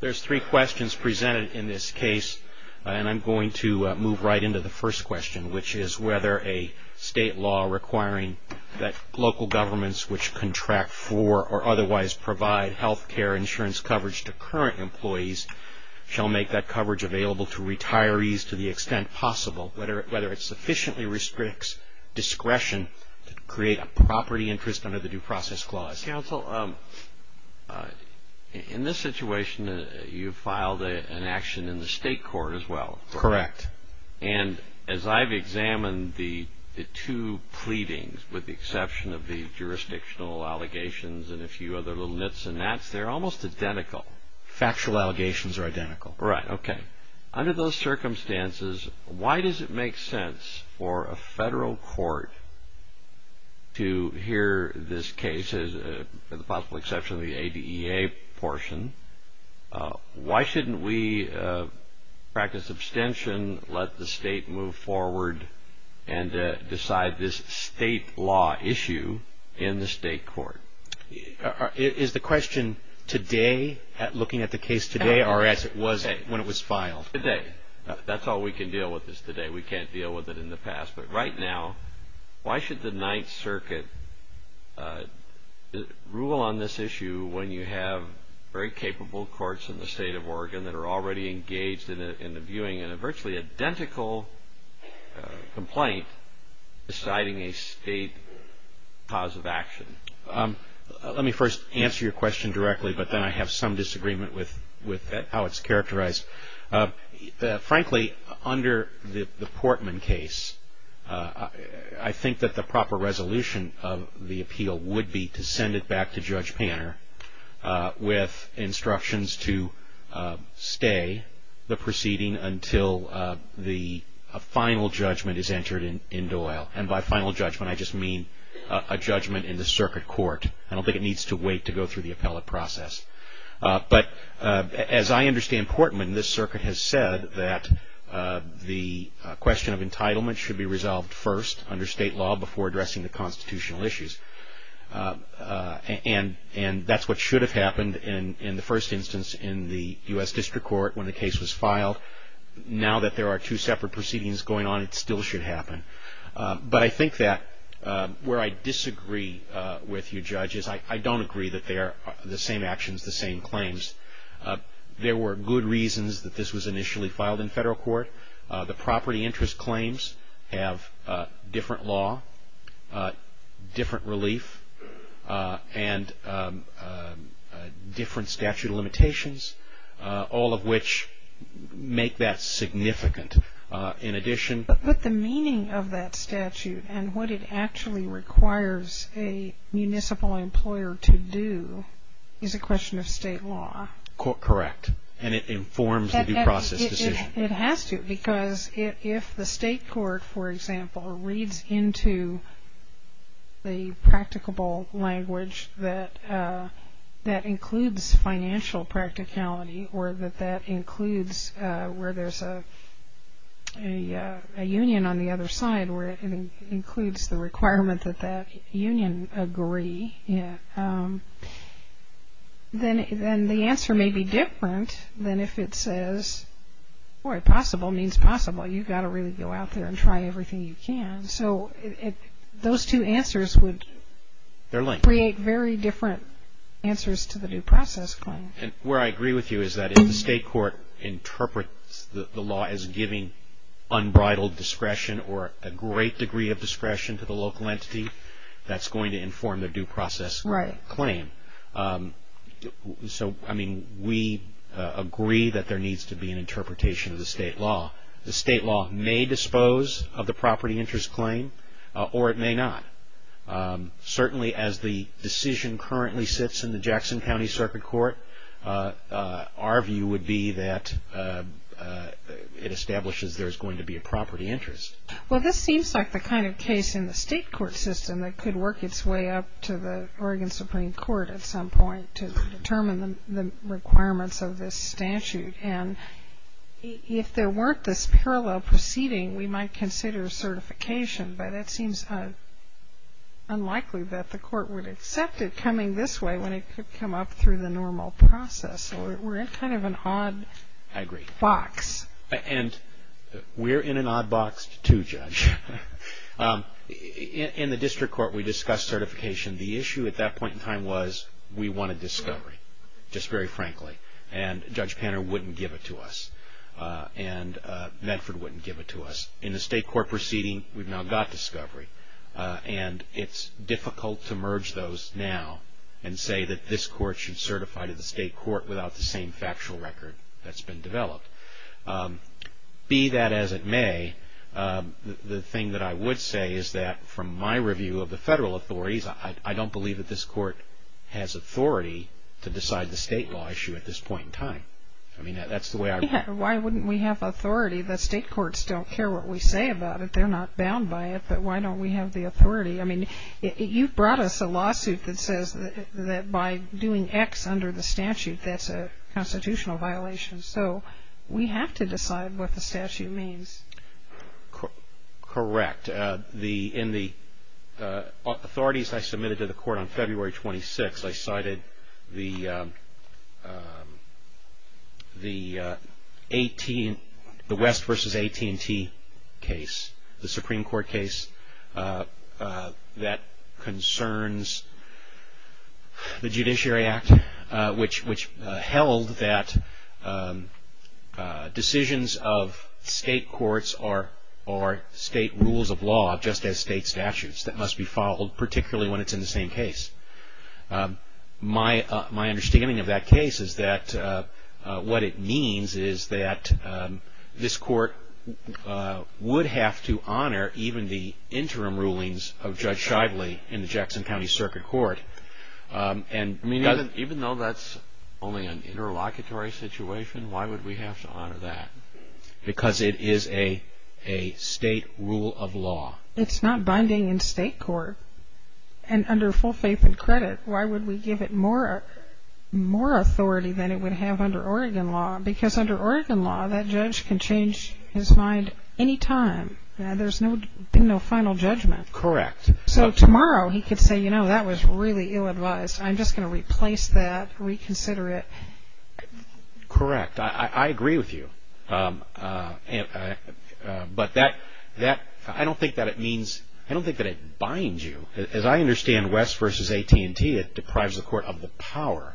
There are three questions presented in this case, and I'm going to move right into the first question, which is whether a state law requiring that local governments which contract for or otherwise provide health care insurance coverage to current employees shall make that coverage available to retirees to the extent possible. Whether it sufficiently restricts discretion to create a property interest under the Due Process Clause. In this situation, you filed an action in the state court as well, correct? Correct. And as I've examined the two pleadings, with the exception of the jurisdictional allegations and a few other little nits and nats, they're almost identical. Factual allegations are identical. Right, okay. Under those circumstances, why does it make sense for a federal court to hear this case, with the possible exception of the ADEA portion, why shouldn't we practice abstention, let the state move forward, and decide this state law issue in the state court? Is the question today, looking at the case today, or as it was when it was filed? Today. That's all we can deal with is today. We can't deal with it in the past. But right now, why should the Ninth Circuit rule on this issue when you have very capable courts in the state of Oregon that are already engaged in the viewing in a virtually identical complaint deciding a state cause of action? Let me first answer your question directly, but then I have some disagreement with how it's characterized. Frankly, under the Portman case, I think that the proper resolution of the appeal would be to send it back to Judge Panner with instructions to stay the proceeding until a final judgment is entered in Doyle. And by final judgment, I just mean a judgment in the circuit court. I don't think it needs to wait to go through the appellate process. But as I understand Portman, this circuit has said that the question of entitlement should be resolved first under state law before addressing the constitutional issues. And that's what should have happened in the first instance in the U.S. District Court when the case was filed. Now that there are two separate proceedings going on, it still should happen. But I think that where I disagree with you, Judge, is I don't agree that they are the same actions, the same claims. There were good reasons that this was initially filed in federal court. The property interest claims have different law, different relief, and different statute of limitations, all of which make that significant. But the meaning of that statute and what it actually requires a municipal employer to do is a question of state law. Correct. And it informs the due process decision. It has to because if the state court, for example, reads into the practicable language that that includes financial practicality or that that includes where there's a union on the other side where it includes the requirement that that union agree, then the answer may be different than if it says, boy, possible means possible. You've got to really go out there and try everything you can. So those two answers would create very different answers to the due process claim. And where I agree with you is that if the state court interprets the law as giving unbridled discretion or a great degree of discretion to the local entity, that's going to inform the due process claim. So, I mean, we agree that there needs to be an interpretation of the state law. The state law may dispose of the property interest claim or it may not. Certainly as the decision currently sits in the Jackson County Circuit Court, our view would be that it establishes there's going to be a property interest. Well, this seems like the kind of case in the state court system that could work its way up to the Oregon Supreme Court at some point to determine the requirements of this statute. And if there weren't this parallel proceeding, we might consider certification. But it seems unlikely that the court would accept it coming this way when it could come up through the normal process. So we're in kind of an odd box. And we're in an odd box too, Judge. In the district court, we discussed certification. The issue at that point in time was we wanted discovery, just very frankly. And Judge Panner wouldn't give it to us. And Medford wouldn't give it to us. In the state court proceeding, we've now got discovery. And it's difficult to merge those now and say that this court should certify to the state court without the same factual record that's been developed. Be that as it may, the thing that I would say is that from my review of the federal authorities, I don't believe that this court has authority to decide the state law issue at this point in time. I mean, that's the way I read it. Why wouldn't we have authority? The state courts don't care what we say about it. They're not bound by it. But why don't we have the authority? I mean, you brought us a lawsuit that says that by doing X under the statute, that's a constitutional violation. So we have to decide what the statute means. Correct. In the authorities I submitted to the court on February 26th, I cited the West v. AT&T case, the Supreme Court case, that concerns the Judiciary Act, which held that decisions of state courts are state rules of law just as state statutes that must be followed, particularly when it's in the same case. My understanding of that case is that what it means is that this court would have to honor even the interim rulings of Judge Shively in the Jackson County Circuit Court. I mean, even though that's only an interlocutory situation, why would we have to honor that? Because it is a state rule of law. It's not binding in state court. And under full faith and credit, why would we give it more authority than it would have under Oregon law? Because under Oregon law, that judge can change his mind any time. There's been no final judgment. Correct. So tomorrow he could say, you know, that was really ill-advised. I'm just going to replace that, reconsider it. Correct. I agree with you. But that, I don't think that it means, I don't think that it binds you. As I understand West v. AT&T, it deprives the court of the power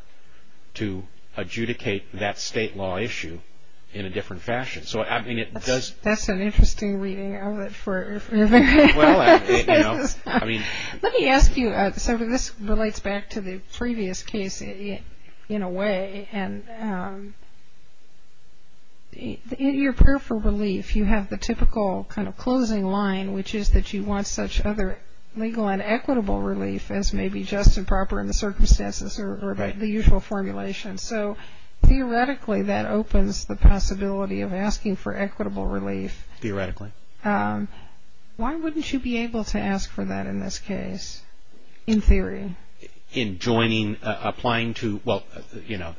to adjudicate that state law issue in a different fashion. So, I mean, it does. That's an interesting reading of it. Well, I mean. Let me ask you, so this relates back to the previous case in a way. And in your prayer for relief, you have the typical kind of closing line, which is that you want such other legal and equitable relief as may be just and proper in the circumstances or the usual formulation. So theoretically, that opens the possibility of asking for equitable relief. Theoretically. Why wouldn't you be able to ask for that in this case, in theory? In joining, applying to, well, you know.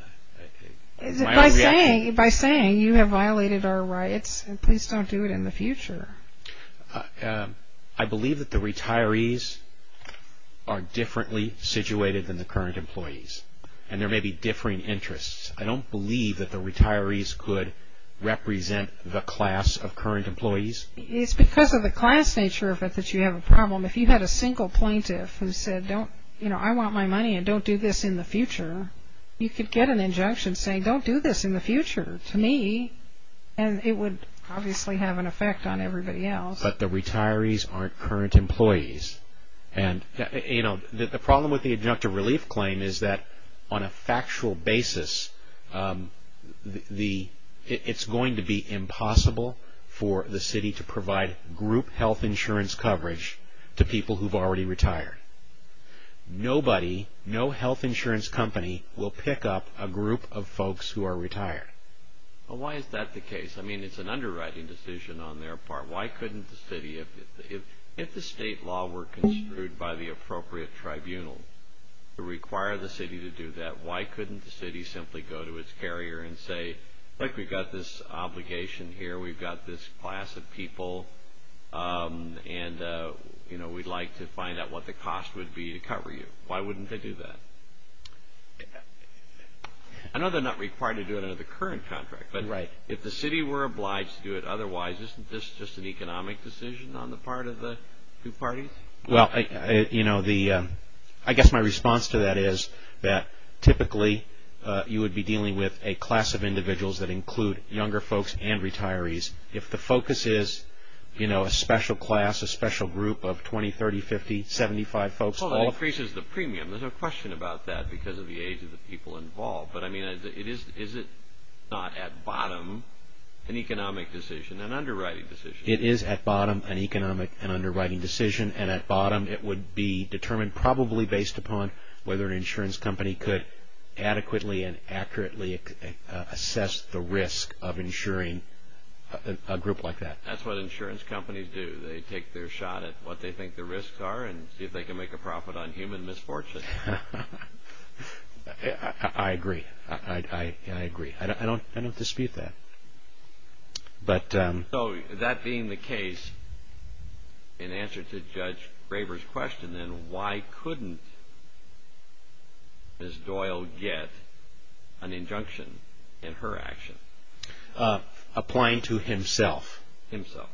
By saying you have violated our rights, please don't do it in the future. I believe that the retirees are differently situated than the current employees. And there may be differing interests. I don't believe that the retirees could represent the class of current employees. It's because of the class nature of it that you have a problem. If you had a single plaintiff who said, you know, I want my money and don't do this in the future, you could get an injunction saying don't do this in the future to me. And it would obviously have an effect on everybody else. But the retirees aren't current employees. You know, the problem with the injunctive relief claim is that on a factual basis, it's going to be impossible for the city to provide group health insurance coverage to people who have already retired. Nobody, no health insurance company will pick up a group of folks who are retired. Well, why is that the case? I mean, it's an underwriting decision on their part. Why couldn't the city, if the state law were construed by the appropriate tribunal to require the city to do that, why couldn't the city simply go to its carrier and say, look, we've got this obligation here. We've got this class of people. And, you know, we'd like to find out what the cost would be to cover you. Why wouldn't they do that? I know they're not required to do it under the current contract. Right. But if the city were obliged to do it otherwise, isn't this just an economic decision on the part of the two parties? Well, you know, I guess my response to that is that typically you would be dealing with a class of individuals that include younger folks and retirees. If the focus is, you know, a special class, a special group of 20, 30, 50, 75 folks. Well, that increases the premium. There's no question about that because of the age of the people involved. But, I mean, is it not at bottom an economic decision, an underwriting decision? It is at bottom an economic and underwriting decision. And at bottom it would be determined probably based upon whether an insurance company could adequately and accurately assess the risk of insuring a group like that. That's what insurance companies do. They take their shot at what they think the risks are and see if they can make a profit on human misfortune. I agree. I agree. I don't dispute that. So that being the case, in answer to Judge Graber's question then, why couldn't Ms. Doyle get an injunction in her action? Applying to himself. Himself.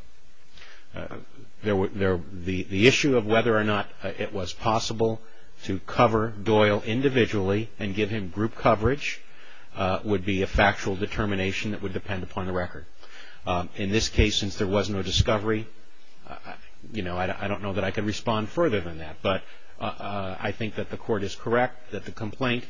The issue of whether or not it was possible to cover Doyle individually and give him group coverage would be a factual determination that would depend upon the record. In this case, since there was no discovery, you know, I don't know that I can respond further than that. But I think that the court is correct, that the complaint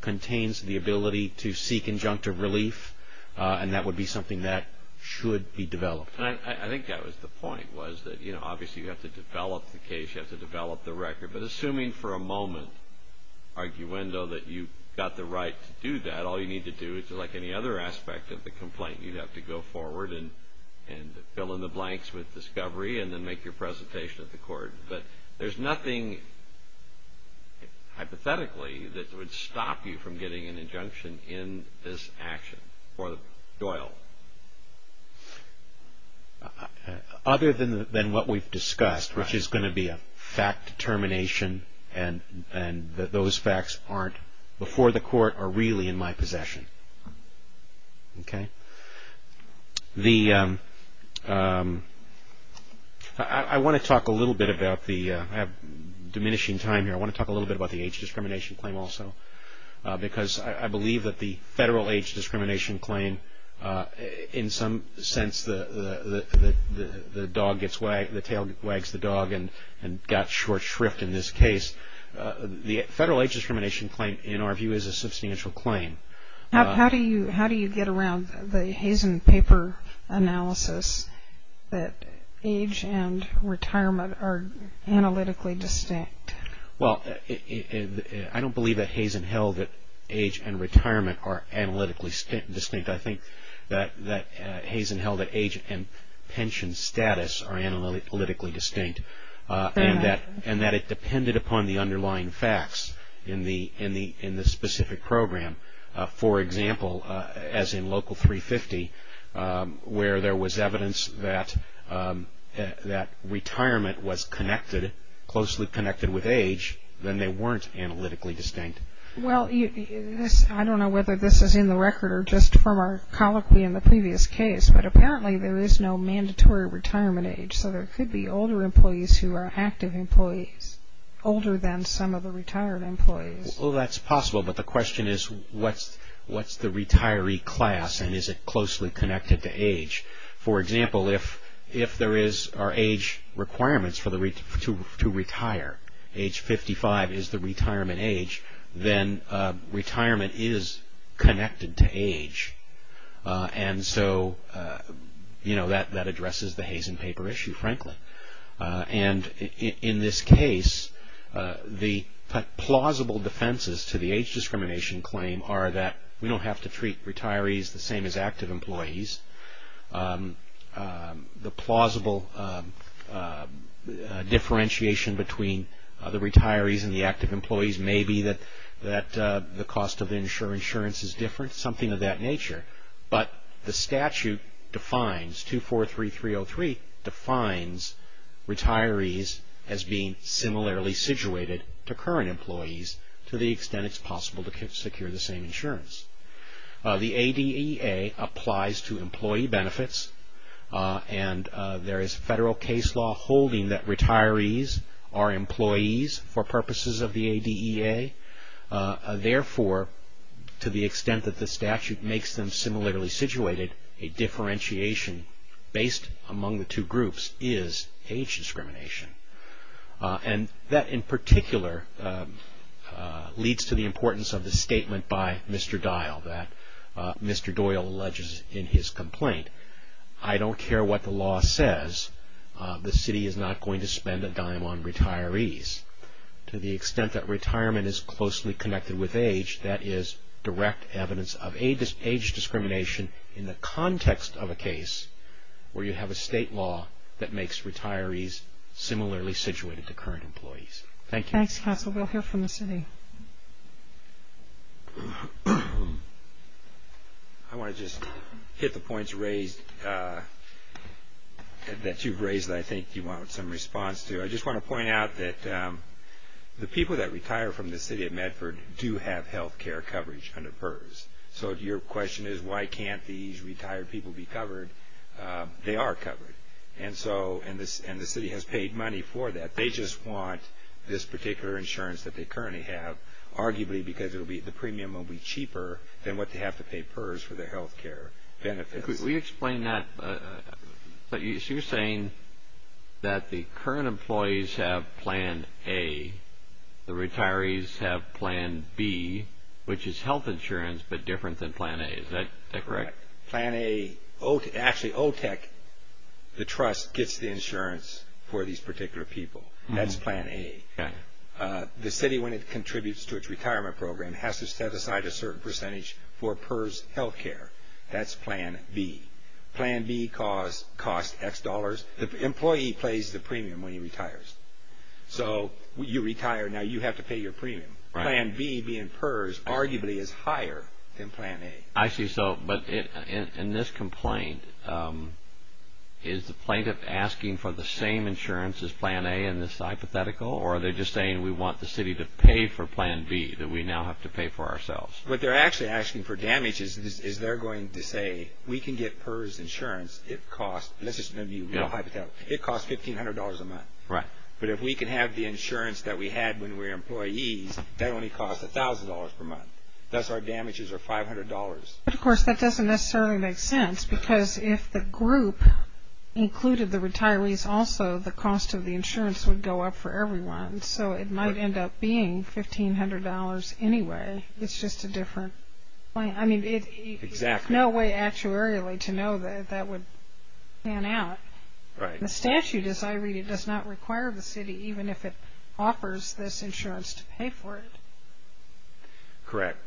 contains the ability to seek injunctive relief, and that would be something that should be developed. I think that was the point, was that, you know, obviously you have to develop the case. You have to develop the record. But assuming for a moment, arguendo, that you got the right to do that, all you need to do is, like any other aspect of the complaint, you'd have to go forward and fill in the blanks with discovery and then make your presentation at the court. But there's nothing hypothetically that would stop you from getting an injunction in this action for Doyle. Other than what we've discussed, which is going to be a fact determination and that those facts aren't before the court or really in my possession. Okay. The, I want to talk a little bit about the, I have diminishing time here. I want to talk a little bit about the age discrimination claim also. Because I believe that the federal age discrimination claim, in some sense, the dog gets, the tail wags the dog and got short shrift in this case. The federal age discrimination claim, in our view, is a substantial claim. How do you get around the Hazen paper analysis that age and retirement are analytically distinct? Well, I don't believe that Hazen held that age and retirement are analytically distinct. I think that Hazen held that age and pension status are analytically distinct. And that it depended upon the underlying facts in the specific program. For example, as in Local 350, where there was evidence that retirement was connected, closely connected with age, then they weren't analytically distinct. Well, I don't know whether this is in the record or just from our colloquy in the previous case, but apparently there is no mandatory retirement age. So there could be older employees who are active employees, older than some of the retired employees. Well, that's possible. But the question is, what's the retiree class and is it closely connected to age? For example, if there are age requirements to retire, age 55 is the retirement age, then retirement is connected to age. And so, you know, that addresses the Hazen paper issue, frankly. And in this case, the plausible defenses to the age discrimination claim are that we don't have to treat retirees the same as active employees. The plausible differentiation between the retirees and the active employees may be that the cost of insurance is different, something of that nature. But the statute defines, 243303, defines retirees as being similarly situated to current employees to the extent it's possible to secure the same insurance. The ADEA applies to employee benefits. And there is federal case law holding that retirees are employees for purposes of the ADEA. Therefore, to the extent that the statute makes them similarly situated, a differentiation based among the two groups is age discrimination. And that, in particular, leads to the importance of the statement by Mr. Dial that Mr. Doyle alleges in his complaint. I don't care what the law says, the city is not going to spend a dime on retirees. To the extent that retirement is closely connected with age, that is direct evidence of age discrimination in the context of a case where you have a state law that makes retirees similarly situated to current employees. Thank you. Thanks, Counsel. We'll hear from the city. I want to just hit the points raised that you've raised that I think you want some response to. I just want to point out that the people that retire from the city of Medford do have health care coverage under PERS. So your question is why can't these retired people be covered? They are covered. And the city has paid money for that. They just want this particular insurance that they currently have, arguably because the premium will be cheaper than what they have to pay PERS for their health care benefits. Could we explain that? So you're saying that the current employees have Plan A, the retirees have Plan B, which is health insurance but different than Plan A. Is that correct? Plan A, actually, OTEC, the trust, gets the insurance for these particular people. That's Plan A. The city, when it contributes to its retirement program, has to set aside a certain percentage for PERS health care. That's Plan B. Plan B costs X dollars. The employee pays the premium when he retires. So you retire, now you have to pay your premium. Plan B, being PERS, arguably is higher than Plan A. I see. But in this complaint, is the plaintiff asking for the same insurance as Plan A in this hypothetical, or are they just saying we want the city to pay for Plan B that we now have to pay for ourselves? What they're actually asking for damage is they're going to say we can get PERS insurance. It costs, let's just give you a hypothetical, it costs $1,500 a month. Right. But if we can have the insurance that we had when we were employees, that only costs $1,000 per month. Thus, our damages are $500. But, of course, that doesn't necessarily make sense because if the group included the retirees also, the cost of the insurance would go up for everyone. So it might end up being $1,500 anyway. It's just a different plan. Exactly. There's no way actuarially to know that that would pan out. Right. The statute, as I read it, does not require the city even if it offers this insurance to pay for it. Correct.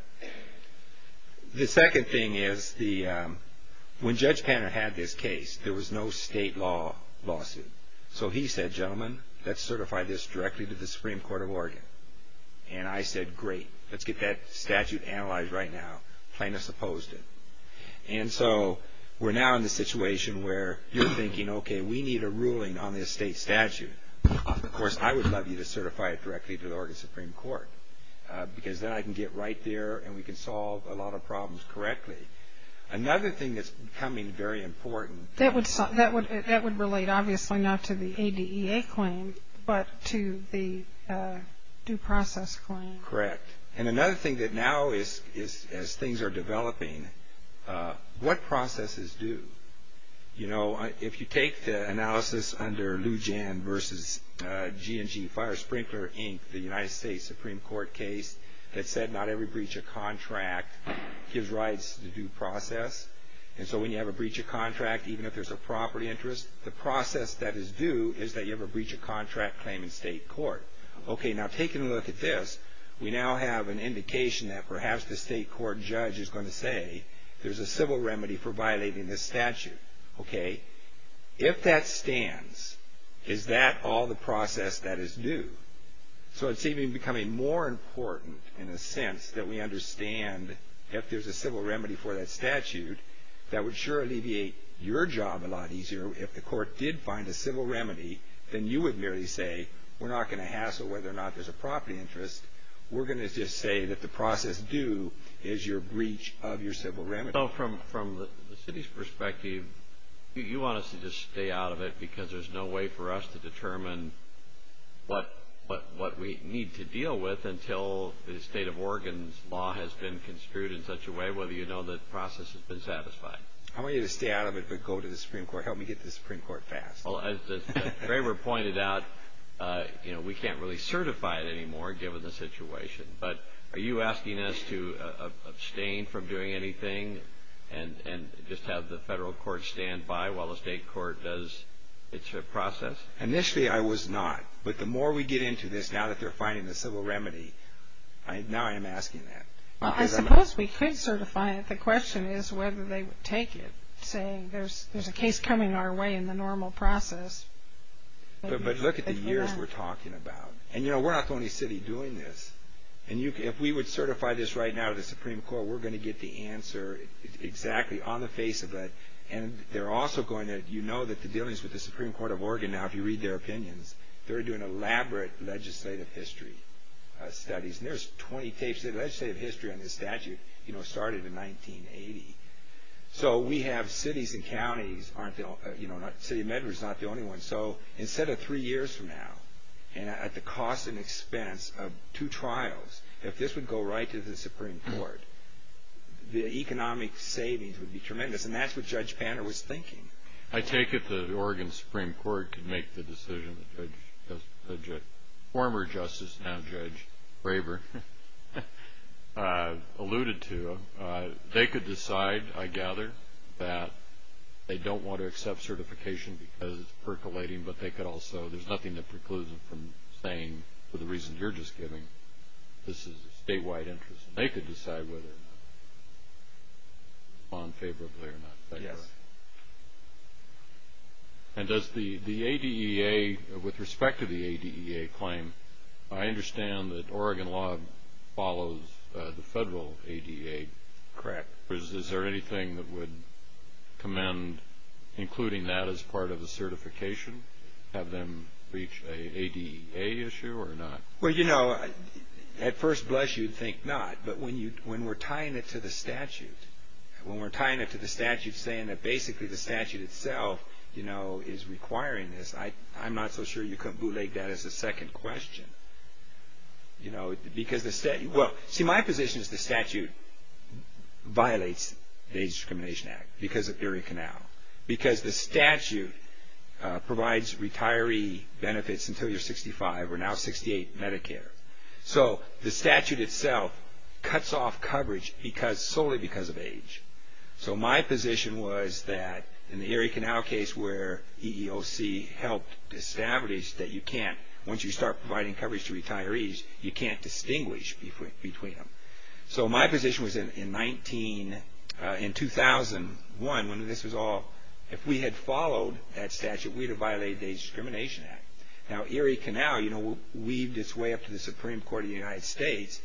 The second thing is when Judge Panner had this case, there was no state law lawsuit. So he said, gentlemen, let's certify this directly to the Supreme Court of Oregon. And I said, great, let's get that statute analyzed right now. The plaintiff supposed it. And so we're now in the situation where you're thinking, okay, we need a ruling on this state statute. Of course, I would love you to certify it directly to the Oregon Supreme Court because then I can get right there and we can solve a lot of problems correctly. Another thing that's becoming very important. That would relate obviously not to the ADEA claim but to the due process claim. Correct. And another thing that now as things are developing, what process is due? You know, if you take the analysis under Lou Jan versus G&G Fire Sprinkler, Inc., the United States Supreme Court case that said not every breach of contract gives rights to due process. And so when you have a breach of contract, even if there's a property interest, the process that is due is that you have a breach of contract claim in state court. Okay, now taking a look at this, we now have an indication that perhaps the state court judge is going to say there's a civil remedy for violating this statute. Okay. If that stands, is that all the process that is due? So it's even becoming more important in a sense that we understand if there's a civil remedy for that statute that would sure alleviate your job a lot easier if the court did find a civil remedy than you would merely say we're not going to hassle whether or not there's a property interest. We're going to just say that the process due is your breach of your civil remedy. So from the city's perspective, you want us to just stay out of it because there's no way for us to determine what we need to deal with until the state of Oregon's law has been construed in such a way whether you know the process has been satisfied. I want you to stay out of it but go to the Supreme Court. Help me get to the Supreme Court fast. Well, as the waiver pointed out, you know, we can't really certify it anymore given the situation. But are you asking us to abstain from doing anything and just have the federal court stand by while the state court does its process? Initially I was not. But the more we get into this now that they're finding the civil remedy, now I am asking that. Well, I suppose we could certify it. The question is whether they would take it, saying there's a case coming our way in the normal process. But look at the years we're talking about. And, you know, we're not the only city doing this. And if we would certify this right now to the Supreme Court, we're going to get the answer exactly on the face of it. And they're also going to – you know that the dealings with the Supreme Court of Oregon now, if you read their opinions, they're doing elaborate legislative history studies. And there's 20 tapes. The legislative history on this statute, you know, started in 1980. So we have cities and counties, you know, City of Medgar is not the only one. So instead of three years from now, and at the cost and expense of two trials, if this would go right to the Supreme Court, the economic savings would be tremendous. And that's what Judge Banner was thinking. I take it the Oregon Supreme Court could make the decision that Judge – former Justice, now Judge Braver alluded to. They could decide, I gather, that they don't want to accept certification because it's percolating, but they could also – there's nothing that precludes them from saying, for the reasons you're just giving, this is a statewide interest. They could decide whether to respond favorably or not. Yes. And does the ADEA, with respect to the ADEA claim, I understand that Oregon law follows the federal ADEA. Correct. Is there anything that would commend including that as part of the certification, have them reach an ADEA issue or not? Well, you know, at first blush you'd think not. But when we're tying it to the statute, when we're tying it to the statute saying that basically the statute itself, you know, is requiring this, I'm not so sure you can't bootleg that as a second question. You know, because the – well, see, my position is the statute violates the Aged Discrimination Act because of Erie Canal. Because the statute provides retiree benefits until you're 65 or now 68 Medicare. So the statute itself cuts off coverage solely because of age. So my position was that in the Erie Canal case where EEOC helped establish that you can't, once you start providing coverage to retirees, you can't distinguish between them. So my position was in 19 – in 2001 when this was all – if we had followed that statute, we'd have violated the Aged Discrimination Act. Now Erie Canal, you know, weaved its way up to the Supreme Court of the United States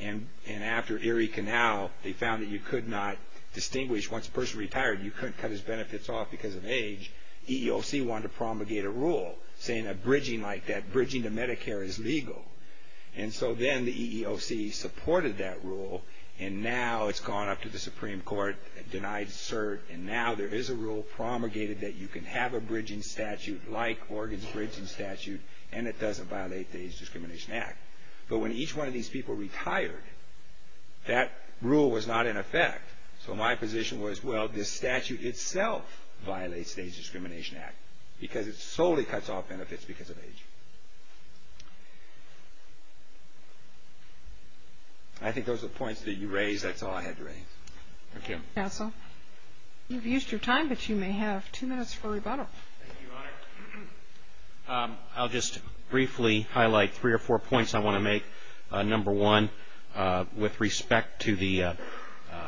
and after Erie Canal they found that you could not distinguish, once a person retired you couldn't cut his benefits off because of age. EEOC wanted to promulgate a rule saying a bridging like that, bridging to Medicare is legal. And so then the EEOC supported that rule and now it's gone up to the Supreme Court, denied cert, and now there is a rule promulgated that you can have a bridging statute like Oregon's bridging statute and it doesn't violate the Aged Discrimination Act. But when each one of these people retired, that rule was not in effect. So my position was, well, this statute itself violates the Aged Discrimination Act because it solely cuts off benefits because of age. I think those are the points that you raised. That's all I had to raise. Thank you. Counsel. You've used your time, but you may have two minutes for rebuttal. Thank you, Your Honor. I'll just briefly highlight three or four points I want to make. Number one, with respect to the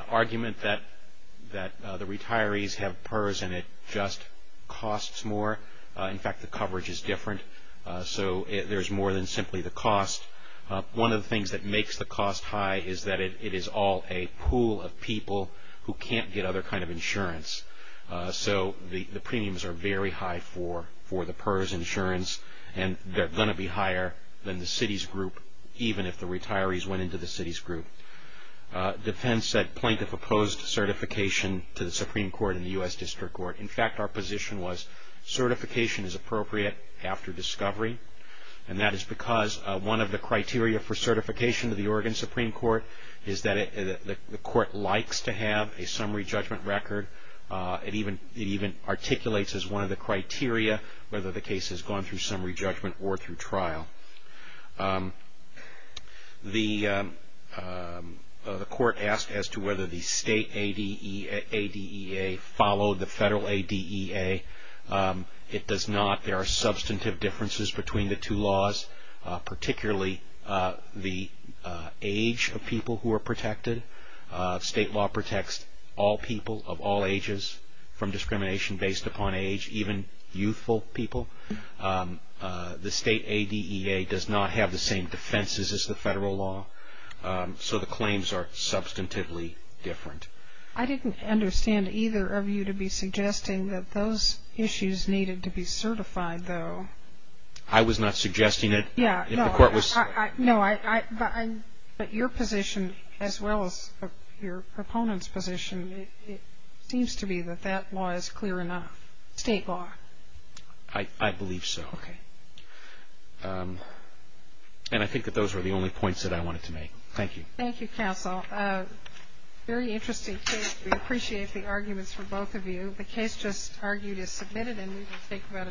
argument that the retirees have PERS and it just costs more. In fact, the coverage is different. So there's more than simply the cost. One of the things that makes the cost high is that it is all a pool of people who can't get other kind of insurance. So the premiums are very high for the PERS insurance and they're going to be higher than the CITES group even if the retirees went into the CITES group. Defense said plaintiff opposed certification to the Supreme Court and the U.S. District Court. In fact, our position was certification is appropriate after discovery, and that is because one of the criteria for certification to the Oregon Supreme Court is that the court likes to have a summary judgment record. It even articulates as one of the criteria whether the case has gone through summary judgment or through trial. The court asked as to whether the state ADEA followed the federal ADEA. It does not. There are substantive differences between the two laws, particularly the age of people who are protected. State law protects all people of all ages from discrimination based upon age, even youthful people. The state ADEA does not have the same defenses as the federal law, so the claims are substantively different. I didn't understand either of you to be suggesting that those issues needed to be certified, though. I was not suggesting it. Yeah, no, but your position as well as your opponent's position, it seems to be that that law is clear enough, state law. I believe so. Okay. And I think that those were the only points that I wanted to make. Thank you. Thank you, counsel. Very interesting case. We appreciate the arguments from both of you. The case just argued is submitted, and we will take about a ten-minute recess.